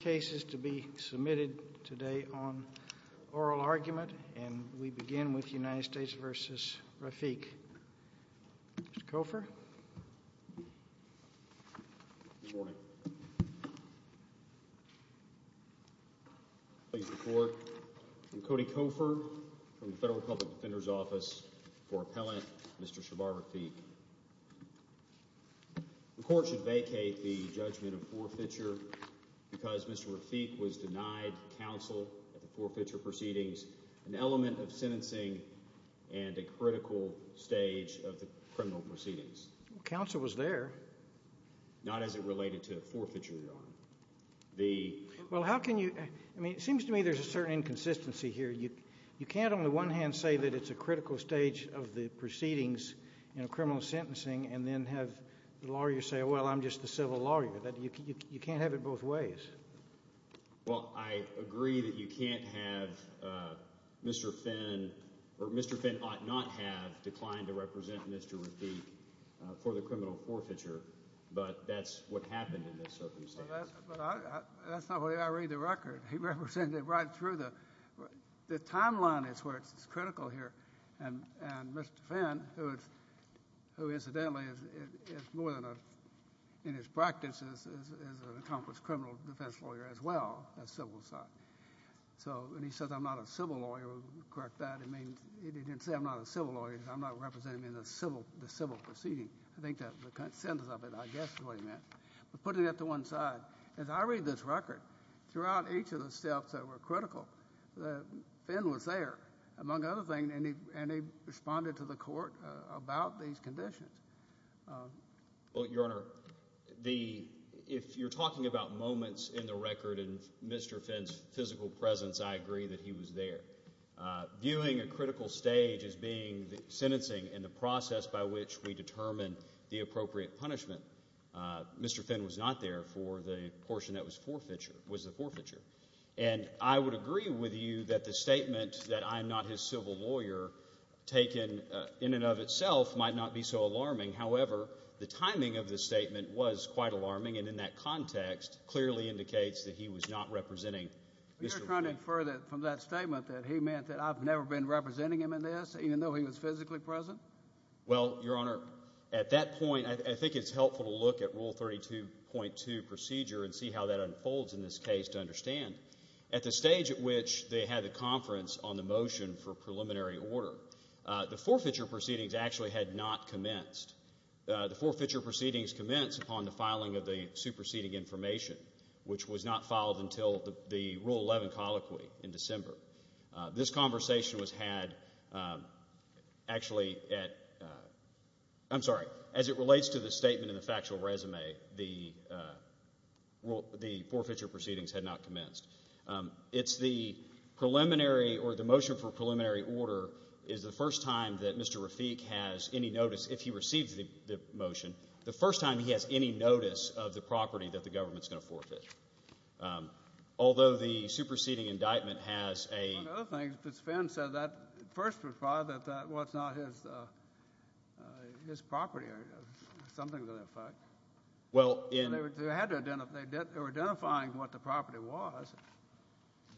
cases to be submitted today on oral argument and we begin with United States v. Rafiq. Mr. Cofer. Good morning. Please report. I'm Cody Cofer from the Federal Public Defender's Office for Appellant Mr. Shabbar Rafiq. The court should vacate the judgment of forfeiture because Mr. Rafiq was denied counsel at the forfeiture proceedings, an element of sentencing, and a critical stage of the criminal proceedings. Counsel was there. Not as it related to forfeiture, Your Honor. Well, how can you, I mean, it seems to me there's a certain inconsistency here. You can't on the one hand say that it's a critical stage of the proceedings, you know, criminal sentencing, and then have the lawyer say, well, I'm just the civil lawyer. You can't have it both ways. Well, I agree that you can't have Mr. Finn, or Mr. Finn ought not have declined to represent Mr. Rafiq for the criminal forfeiture, but that's what happened in this circumstance. Well, that's not the way I read the record. He represented right through the, the timeline is where it's critical here. And Mr. Finn, who incidentally is more than a, in his practice is an accomplished criminal defense lawyer as well as civil side. So when he says I'm not a civil lawyer, correct that, it means, he didn't say I'm not a civil lawyer, I'm not representing the civil, the civil proceeding. I think that's the consensus of it, I guess is what he meant. But putting that to one side, as I read this record, throughout each of the steps that were critical, Finn was there. Among other things, and he responded to the court about these conditions. Well, Your Honor, the, if you're talking about moments in the record and Mr. Finn's physical presence, I agree that he was there. Viewing a critical stage as being the sentencing and the process by which we determine the appropriate punishment, Mr. Finn was not there for the portion that was forfeiture, was the forfeiture. And I would agree with you that the statement that I'm not his civil lawyer taken in and of itself might not be so alarming. However, the timing of the statement was quite alarming and in that context clearly indicates that he was not representing Mr. Finn. You're trying to infer that from that statement that he meant that I've never been representing him in this, even though he was physically present? Well, Your Honor, at that point, I think it's helpful to look at Rule 32.2 procedure and see how that unfolds in this case to understand. At the stage at which they had the conference on the motion for preliminary order, the forfeiture proceedings actually had not commenced. The forfeiture proceedings commenced upon the filing of the superseding information, which was not filed until the Rule 11 colloquy in December. This conversation was had actually at, I'm sorry, as it relates to the statement in the factual resume, the forfeiture proceedings had not commenced. It's the preliminary or the motion for preliminary order is the first time that Mr. Rafik has any notice, if he receives the motion, the first time he has any notice of the property that the government's going to forfeit. Although the superseding indictment has a – One of the other things, Mr. Finn said that first reply that, well, it's not his property or something to that effect. Well, in – They were identifying what the property was.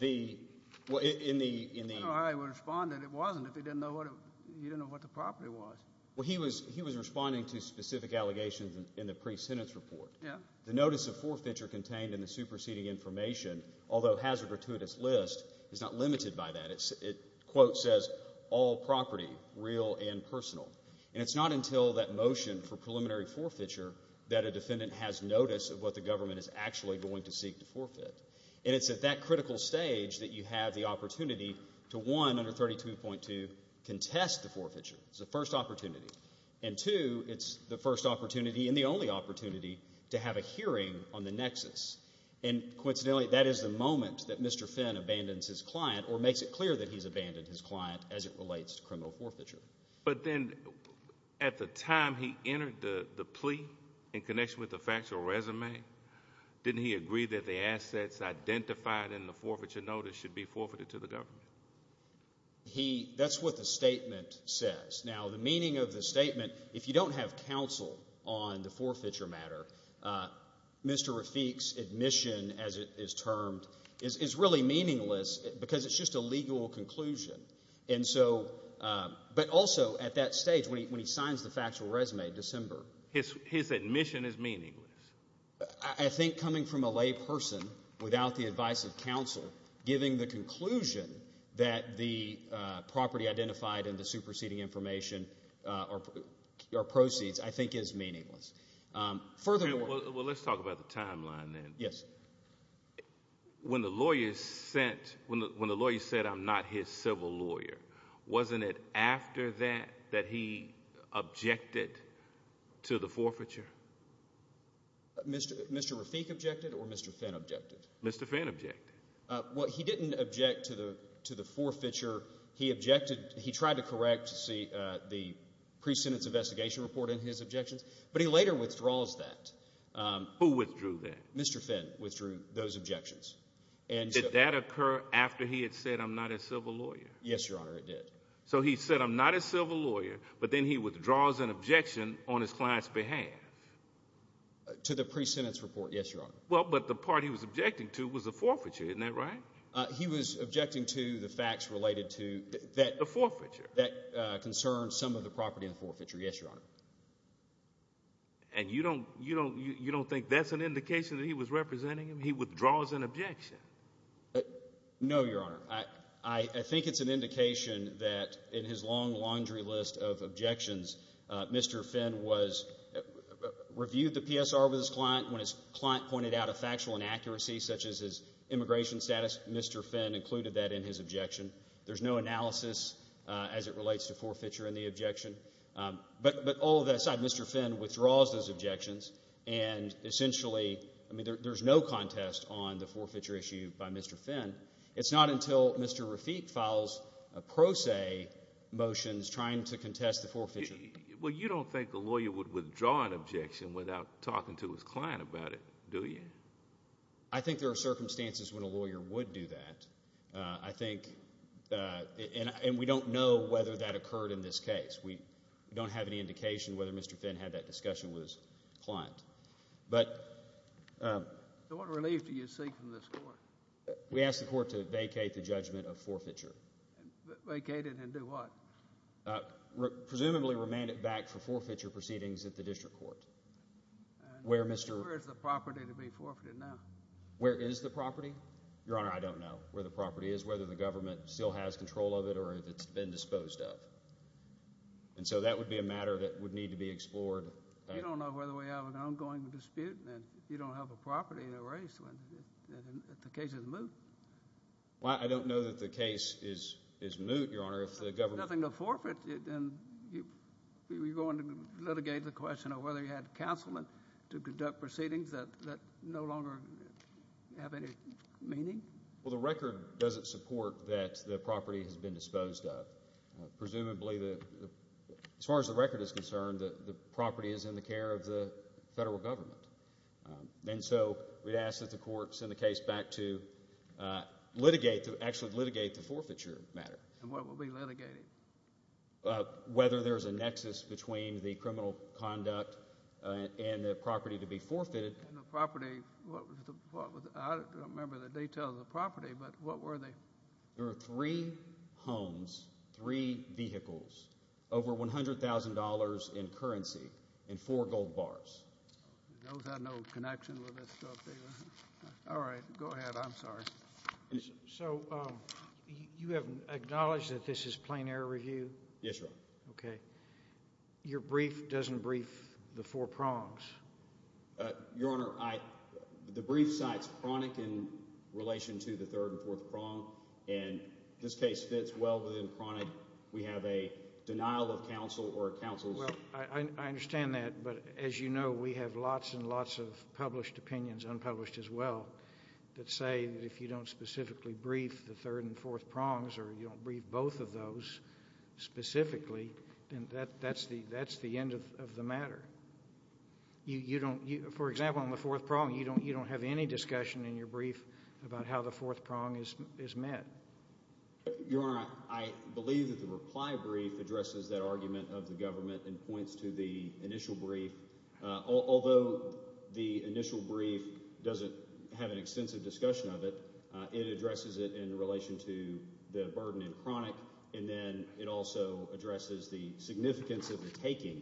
The – well, in the – I don't know how he would have responded if he didn't know what the property was. Well, he was responding to specific allegations in the pre-sentence report. Yeah. The notice of forfeiture contained in the superseding information, although it has a gratuitous list, is not limited by that. It, quote, says, all property, real and personal. And it's not until that motion for preliminary forfeiture that a defendant has notice of what the government is actually going to seek to forfeit. And it's at that critical stage that you have the opportunity to, one, under 32.2, contest the forfeiture. It's the first opportunity. And, two, it's the first opportunity and the only opportunity to have a hearing on the nexus. And coincidentally, that is the moment that Mr. Finn abandons his client or makes it clear that he's abandoned his client as it relates to criminal forfeiture. But then at the time he entered the plea in connection with the factual resume, didn't he agree that the assets identified in the forfeiture notice should be forfeited to the government? He – that's what the statement says. Now, the meaning of the statement, if you don't have counsel on the forfeiture matter, Mr. Rafik's admission, as it is termed, is really meaningless because it's just a legal conclusion. And so – but also at that stage, when he signs the factual resume in December. His admission is meaningless. I think coming from a lay person without the advice of counsel, giving the conclusion that the property identified in the superseding information or proceeds I think is meaningless. Furthermore – Well, let's talk about the timeline then. Yes. When the lawyer sent – when the lawyer said I'm not his civil lawyer, wasn't it after that that he objected to the forfeiture? Mr. Rafik objected or Mr. Finn objected? Mr. Finn objected. Well, he didn't object to the forfeiture. He objected – he tried to correct the pre-sentence investigation report in his objections, but he later withdraws that. Who withdrew that? Mr. Finn withdrew those objections. Did that occur after he had said I'm not his civil lawyer? Yes, Your Honor, it did. So he said I'm not his civil lawyer, but then he withdraws an objection on his client's behalf? To the pre-sentence report, yes, Your Honor. Well, but the part he was objecting to was the forfeiture. Isn't that right? He was objecting to the facts related to – The forfeiture. That concerned some of the property in the forfeiture, yes, Your Honor. And you don't think that's an indication that he was representing him? He withdraws an objection. No, Your Honor. I think it's an indication that in his long laundry list of objections, Mr. Finn was – reviewed the PSR with his client. When his client pointed out a factual inaccuracy such as his immigration status, Mr. Finn included that in his objection. There's no analysis as it relates to forfeiture in the objection. But all of that aside, Mr. Finn withdraws those objections, and essentially – I mean, there's no contest on the forfeiture issue by Mr. Finn. It's not until Mr. Rafik files a pro se motions trying to contest the forfeiture. Well, you don't think a lawyer would withdraw an objection without talking to his client about it, do you? I think there are circumstances when a lawyer would do that. I think – and we don't know whether that occurred in this case. We don't have any indication whether Mr. Finn had that discussion with his client. But – So what relief do you seek from this court? We ask the court to vacate the judgment of forfeiture. Vacate it and do what? Presumably remand it back for forfeiture proceedings at the district court where Mr. – Where is the property to be forfeited now? Where is the property? Your Honor, I don't know where the property is, whether the government still has control of it, or if it's been disposed of. And so that would be a matter that would need to be explored. You don't know whether we have an ongoing dispute and you don't have a property in a race when the case is moot. Well, I don't know that the case is moot, Your Honor. If the government – Nothing to forfeit. You're going to litigate the question of whether you had counsel to conduct proceedings that no longer have any meaning? Well, the record doesn't support that the property has been disposed of. Presumably, as far as the record is concerned, the property is in the care of the federal government. And so we'd ask that the court send the case back to litigate, to actually litigate the forfeiture matter. And what will be litigated? Whether there's a nexus between the criminal conduct and the property to be forfeited. And the property – I don't remember the details of the property, but what were they? There were three homes, three vehicles, over $100,000 in currency, and four gold bars. Those have no connection with this stuff, either. All right, go ahead. I'm sorry. So you have acknowledged that this is plain error review? Yes, Your Honor. Okay. Your brief doesn't brief the four prongs? Your Honor, the brief cites chronic in relation to the third and fourth prong, and this case fits well within chronic. We have a denial of counsel or counsel's – if you don't specifically brief the third and fourth prongs or you don't brief both of those specifically, then that's the end of the matter. For example, on the fourth prong, you don't have any discussion in your brief about how the fourth prong is met. Your Honor, I believe that the reply brief addresses that argument of the government and points to the initial brief. Although the initial brief doesn't have an extensive discussion of it, it addresses it in relation to the burden in chronic, and then it also addresses the significance of the taking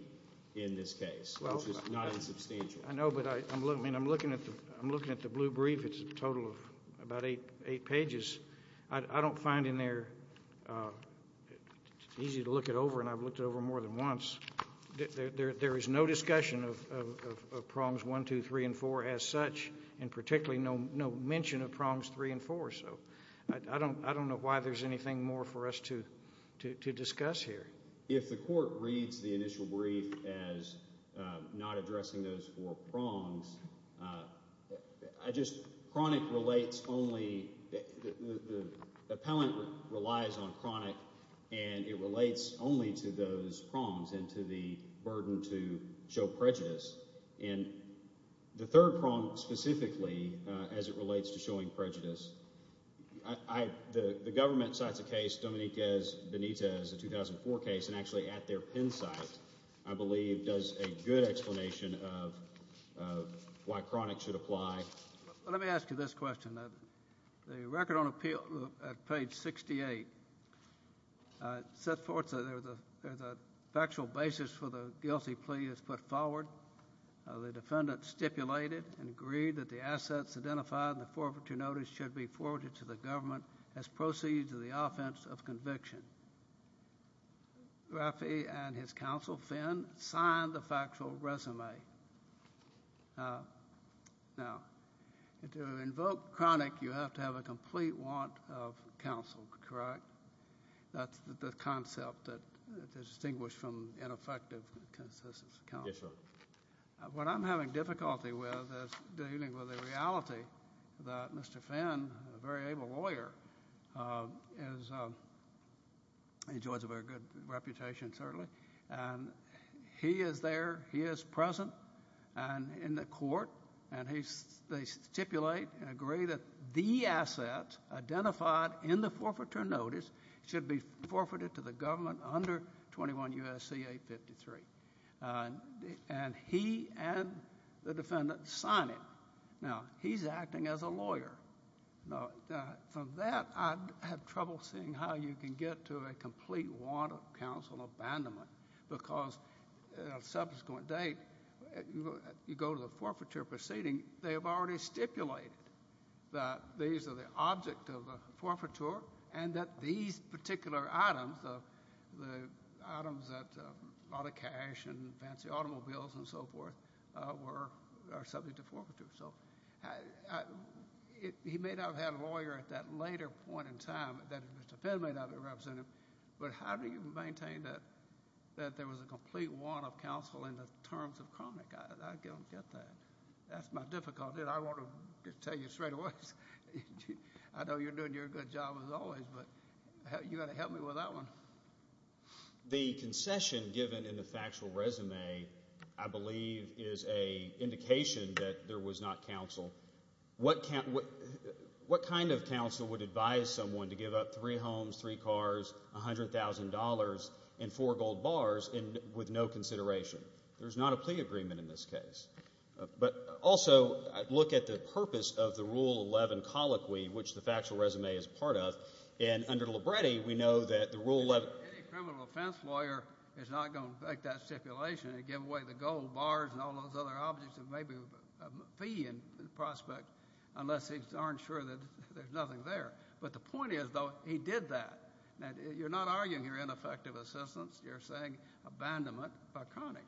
in this case, which is not insubstantial. I know, but I'm looking at the blue brief. It's a total of about eight pages. I don't find in there – it's easy to look it over, and I've looked it over more than once. There is no discussion of prongs one, two, three, and four as such, and particularly no mention of prongs three and four. So I don't know why there's anything more for us to discuss here. If the court reads the initial brief as not addressing those four prongs, I just – chronic relates only – the appellant relies on chronic, and it relates only to those prongs and to the burden to show prejudice. And the third prong specifically, as it relates to showing prejudice, the government cites a case, Dominique Benitez, a 2004 case, and actually at their pen site, I believe, does a good explanation of why chronic should apply. Let me ask you this question. The record on appeal at page 68 sets forth that there's a factual basis for the guilty plea that's put forward. The defendant stipulated and agreed that the assets identified in the forfeiture notice should be forwarded to the government as proceeds of the offense of conviction. Raffi and his counsel, Finn, signed the factual resume. Now, to invoke chronic, you have to have a complete want of counsel, correct? That's the concept that is distinguished from ineffective consistent counsel. Yes, sir. What I'm having difficulty with is dealing with the reality that Mr. Finn, a very able lawyer, enjoys a very good reputation, certainly, and he is there, he is present in the court, and they stipulate and agree that the assets identified in the forfeiture notice should be forfeited to the government under 21 U.S.C. 853. And he and the defendant sign it. Now, he's acting as a lawyer. From that, I have trouble seeing how you can get to a complete want of counsel abandonment because at a subsequent date, you go to the forfeiture proceeding. They have already stipulated that these are the object of the forfeiture and that these particular items, the items that a lot of cash and fancy automobiles and so forth, are subject to forfeiture. He may not have had a lawyer at that later point in time that Mr. Finn may not have represented, but how do you maintain that there was a complete want of counsel in the terms of chronic? I don't get that. That's my difficulty, and I want to tell you straight away. I know you're doing your good job, as always, but you've got to help me with that one. The concession given in the factual resume, I believe, is an indication that there was not counsel. What kind of counsel would advise someone to give up three homes, three cars, $100,000, and four gold bars with no consideration? There's not a plea agreement in this case. But also, look at the purpose of the Rule 11 colloquy, which the factual resume is part of, and under Libretti, we know that the Rule 11. Any criminal offense lawyer is not going to make that stipulation and give away the gold bars and all those other objects that may be a fee in the prospect unless they aren't sure that there's nothing there. But the point is, though, he did that. Now, you're not arguing here ineffective assistance. You're saying abandonment by chronic,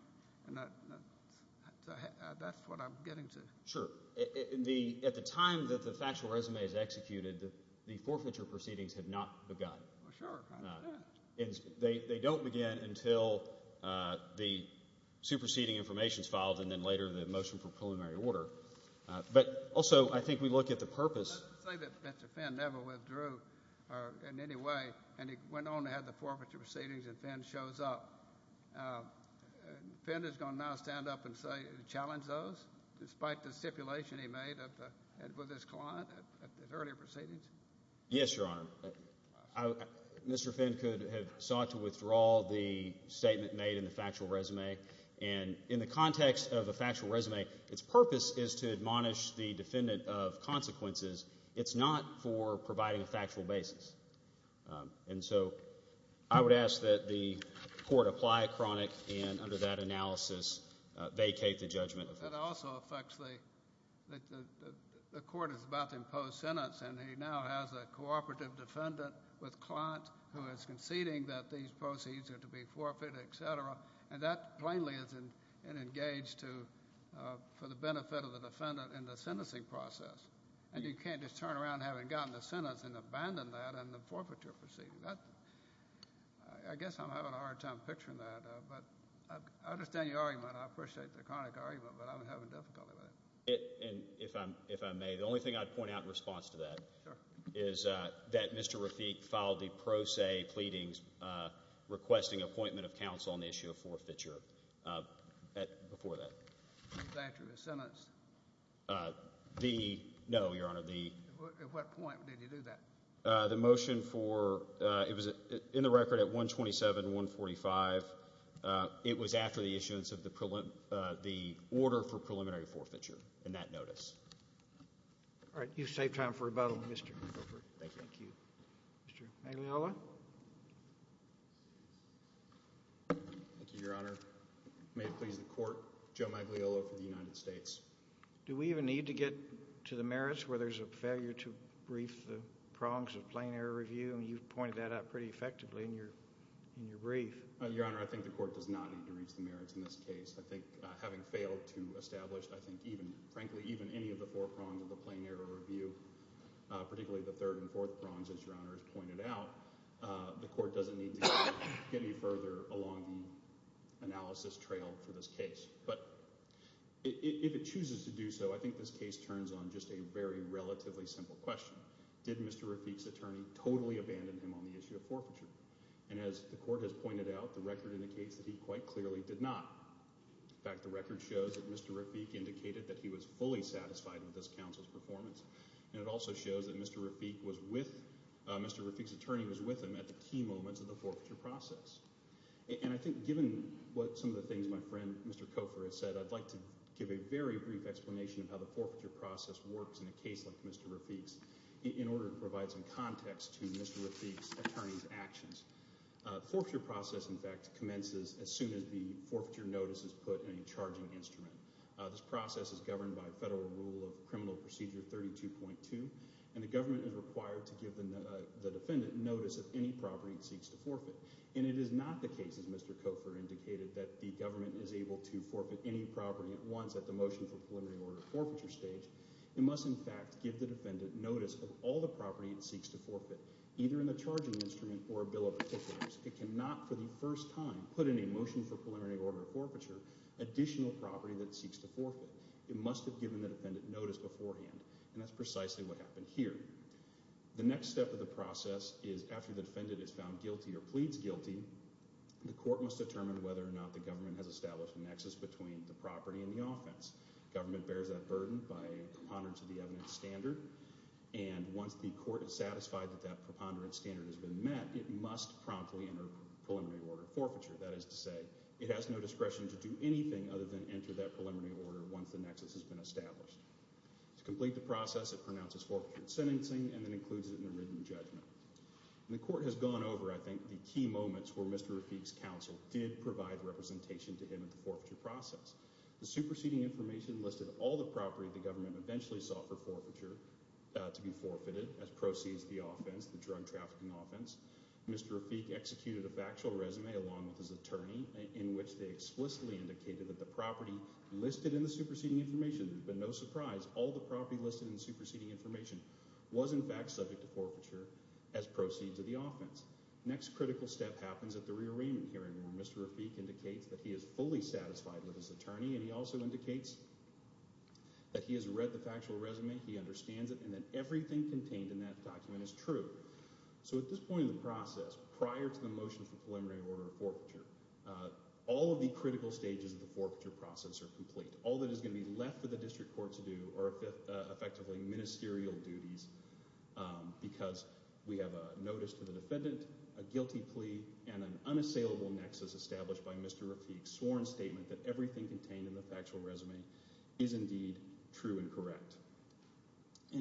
and that's what I'm getting to. Sure. At the time that the factual resume is executed, the forfeiture proceedings have not begun. Well, sure. They don't begin until the superseding information is filed and then later the motion for preliminary order. But also, I think we look at the purpose. Let's just say that Mr. Fenn never withdrew in any way, and he went on to have the forfeiture proceedings and then shows up. Fenn is going to now stand up and challenge those, despite the stipulation he made with his client at the earlier proceedings? Yes, Your Honor. Mr. Fenn could have sought to withdraw the statement made in the factual resume. And in the context of the factual resume, its purpose is to admonish the defendant of consequences. It's not for providing a factual basis. And so I would ask that the court apply chronic and under that analysis vacate the judgment. That also affects the court is about to impose sentence, and he now has a cooperative defendant with client who is conceding that these proceeds are to be forfeited, et cetera. And that plainly is an engage for the benefit of the defendant in the sentencing process. And you can't just turn around having gotten the sentence and abandon that in the forfeiture proceeding. I guess I'm having a hard time picturing that. But I understand your argument. I appreciate the chronic argument, but I'm having difficulty with it. And if I may, the only thing I'd point out in response to that is that Mr. Rafik filed the pro se pleadings requesting appointment of counsel on the issue of forfeiture before that. Was that after the sentence? No, Your Honor. At what point did he do that? The motion for it was in the record at 127-145. It was after the issuance of the order for preliminary forfeiture in that notice. All right. You've saved time for rebuttal, Mr. Wilford. Thank you. Mr. Magliolo. Thank you, Your Honor. May it please the court, Joe Magliolo for the United States. Do we even need to get to the merits where there's a failure to brief the prongs of plain error review? You've pointed that out pretty effectively in your brief. Your Honor, I think the court does not need to reach the merits in this case. I think having failed to establish, I think, frankly, even any of the four prongs of the plain error review, particularly the third and fourth prongs, as Your Honor has pointed out, the court doesn't need to get any further along the analysis trail for this case. But if it chooses to do so, I think this case turns on just a very relatively simple question. Did Mr. Rafique's attorney totally abandon him on the issue of forfeiture? And as the court has pointed out, the record indicates that he quite clearly did not. In fact, the record shows that Mr. Rafique indicated that he was fully satisfied with this counsel's performance. And it also shows that Mr. Rafique's attorney was with him at the key moments of the forfeiture process. And I think given some of the things my friend Mr. Cofer has said, I'd like to give a very brief explanation of how the forfeiture process works in a case like Mr. Rafique's in order to provide some context to Mr. Rafique's attorney's actions. The forfeiture process, in fact, commences as soon as the forfeiture notice is put in a charging instrument. This process is governed by Federal Rule of Criminal Procedure 32.2, and the government is required to give the defendant notice of any property it seeks to forfeit. And it is not the case, as Mr. Cofer indicated, that the government is able to forfeit any property at once at the motion for preliminary order forfeiture stage. It must, in fact, give the defendant notice of all the property it seeks to forfeit, either in the charging instrument or a bill of particulars. It cannot for the first time put in a motion for preliminary order forfeiture additional property that it seeks to forfeit. It must have given the defendant notice beforehand. And that's precisely what happened here. The next step of the process is after the defendant is found guilty or pleads guilty, the court must determine whether or not the government has established a nexus between the property and the offense. Government bears that burden by preponderance of the evidence standard, and once the court is satisfied that that preponderance standard has been met, it must promptly enter preliminary order forfeiture. That is to say, it has no discretion to do anything other than enter that preliminary order once the nexus has been established. To complete the process, it pronounces forfeiture in sentencing and then includes it in the written judgment. And the court has gone over, I think, the key moments where Mr. Rafique's counsel did provide representation to him at the forfeiture process. The superseding information listed all the property the government eventually sought for forfeiture to be forfeited as proceeds of the offense, the drug trafficking offense. Mr. Rafique executed a factual resume along with his attorney in which they explicitly indicated that the property listed in the superseding information – there's been no surprise – all the property listed in the superseding information was in fact subject to forfeiture as proceeds of the offense. The next critical step happens at the rearrangement hearing where Mr. Rafique indicates that he is fully satisfied with his attorney and he also indicates that he has read the factual resume, he understands it, and that everything contained in that document is true. So at this point in the process, prior to the motion for preliminary order for forfeiture, all of the critical stages of the forfeiture process are complete. All that is going to be left for the district court to do are effectively ministerial duties because we have a notice to the defendant, a guilty plea, and an unassailable nexus established by Mr. Rafique's sworn statement that everything contained in the factual resume is indeed true and correct.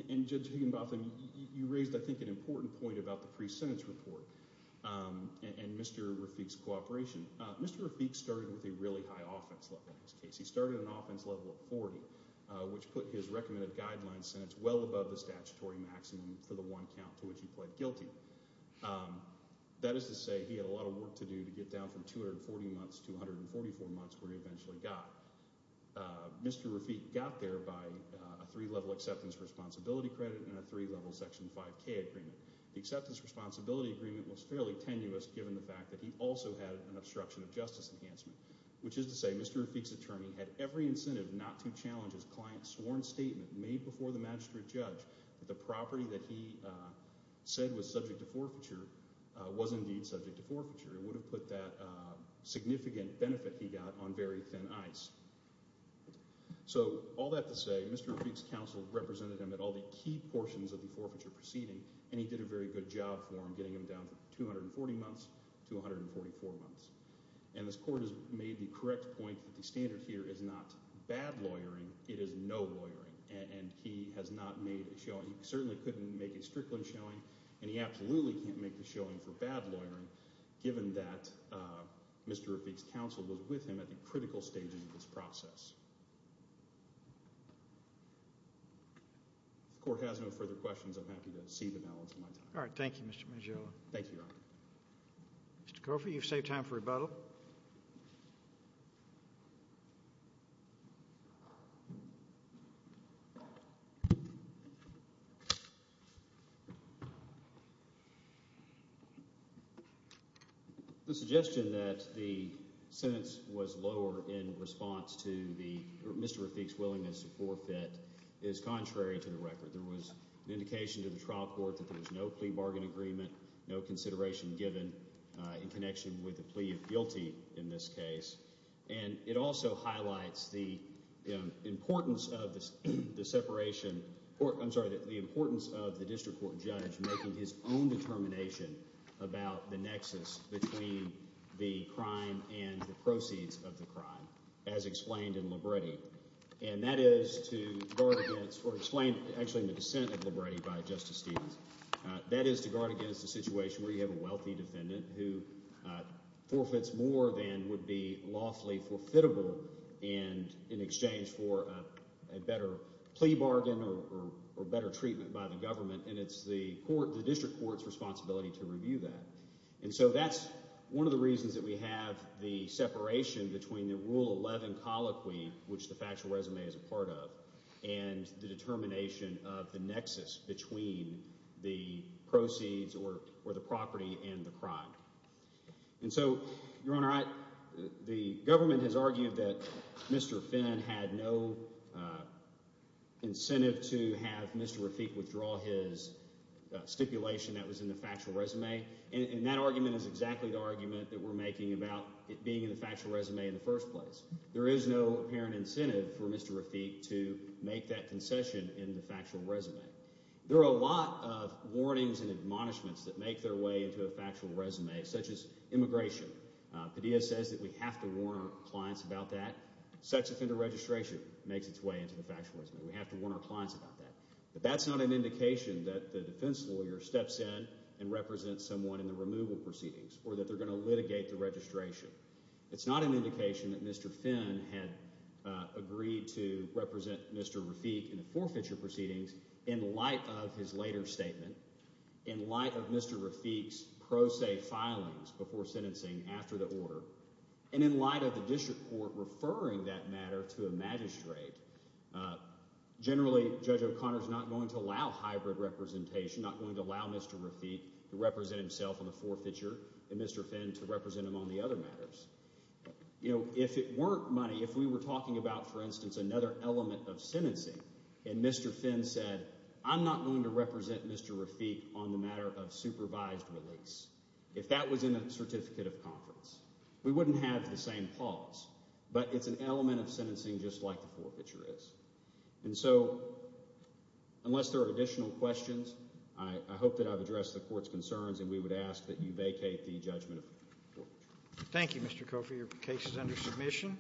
And Judge Higginbotham, you raised I think an important point about the pre-sentence report and Mr. Rafique's cooperation. Mr. Rafique started with a really high offense level in his case. He started an offense level of 40, which put his recommended guideline sentence well above the statutory maximum for the one count to which he pled guilty. That is to say he had a lot of work to do to get down from 240 months to 144 months where he eventually got. Mr. Rafique got there by a three-level acceptance responsibility credit and a three-level Section 5K agreement. The acceptance responsibility agreement was fairly tenuous given the fact that he also had an obstruction of justice enhancement, which is to say Mr. Rafique's attorney had every incentive not to challenge his client's sworn statement made before the magistrate judge that the property that he said was subject to forfeiture was indeed subject to forfeiture. It would have put that significant benefit he got on very thin ice. So all that to say, Mr. Rafique's counsel represented him at all the key portions of the forfeiture proceeding, and he did a very good job for him getting him down from 240 months to 144 months. And this court has made the correct point that the standard here is not bad lawyering. It is no lawyering, and he has not made a showing. He certainly couldn't make a Strickland showing, and he absolutely can't make a showing for bad lawyering given that Mr. Rafique's counsel was with him at the critical stages of this process. If the court has no further questions, I'm happy to cede the balance of my time. All right. Thank you, Mr. Magillo. Thank you, Your Honor. Mr. Coffey, you've saved time for rebuttal. The suggestion that the sentence was lower in response to Mr. Rafique's willingness to forfeit is contrary to the record. There was an indication to the trial court that there was no plea bargain agreement, no consideration given in connection with the plea of guilty in this case. And it also highlights the importance of the separation—I'm sorry, the importance of the district court judge making his own determination about the nexus between the crime and the proceeds of the crime, as explained in Libretti. And that is to guard against—or explain, actually, in the dissent of Libretti by Justice Stevens. That is to guard against a situation where you have a wealthy defendant who forfeits more than would be lawfully forfittable in exchange for a better plea bargain or better treatment by the government. And it's the district court's responsibility to review that. And so that's one of the reasons that we have the separation between the Rule 11 colloquy, which the factual resume is a part of, and the determination of the nexus between the proceeds or the property and the crime. And so, Your Honor, the government has argued that Mr. Finn had no incentive to have Mr. Rafique withdraw his stipulation that was in the factual resume. And that argument is exactly the argument that we're making about it being in the factual resume in the first place. There is no apparent incentive for Mr. Rafique to make that concession in the factual resume. There are a lot of warnings and admonishments that make their way into a factual resume, such as immigration. Padilla says that we have to warn our clients about that. Sex offender registration makes its way into the factual resume. We have to warn our clients about that. But that's not an indication that the defense lawyer steps in and represents someone in the removal proceedings or that they're going to litigate the registration. It's not an indication that Mr. Finn had agreed to represent Mr. Rafique in the forfeiture proceedings in light of his later statement, in light of Mr. Rafique's pro se filings before sentencing after the order, and in light of the district court referring that matter to a magistrate. Generally, Judge O'Connor is not going to allow hybrid representation, not going to allow Mr. Rafique to represent himself in the forfeiture, and Mr. Finn to represent him on the other matters. You know, if it weren't money, if we were talking about, for instance, another element of sentencing, and Mr. Finn said, I'm not going to represent Mr. Rafique on the matter of supervised release, if that was in a certificate of conference, we wouldn't have the same clause. But it's an element of sentencing just like the forfeiture is. And so, unless there are additional questions, I hope that I've addressed the court's concerns, and we would ask that you vacate the judgment of the forfeiture. Thank you, Mr. Coffey. Your case is under submission.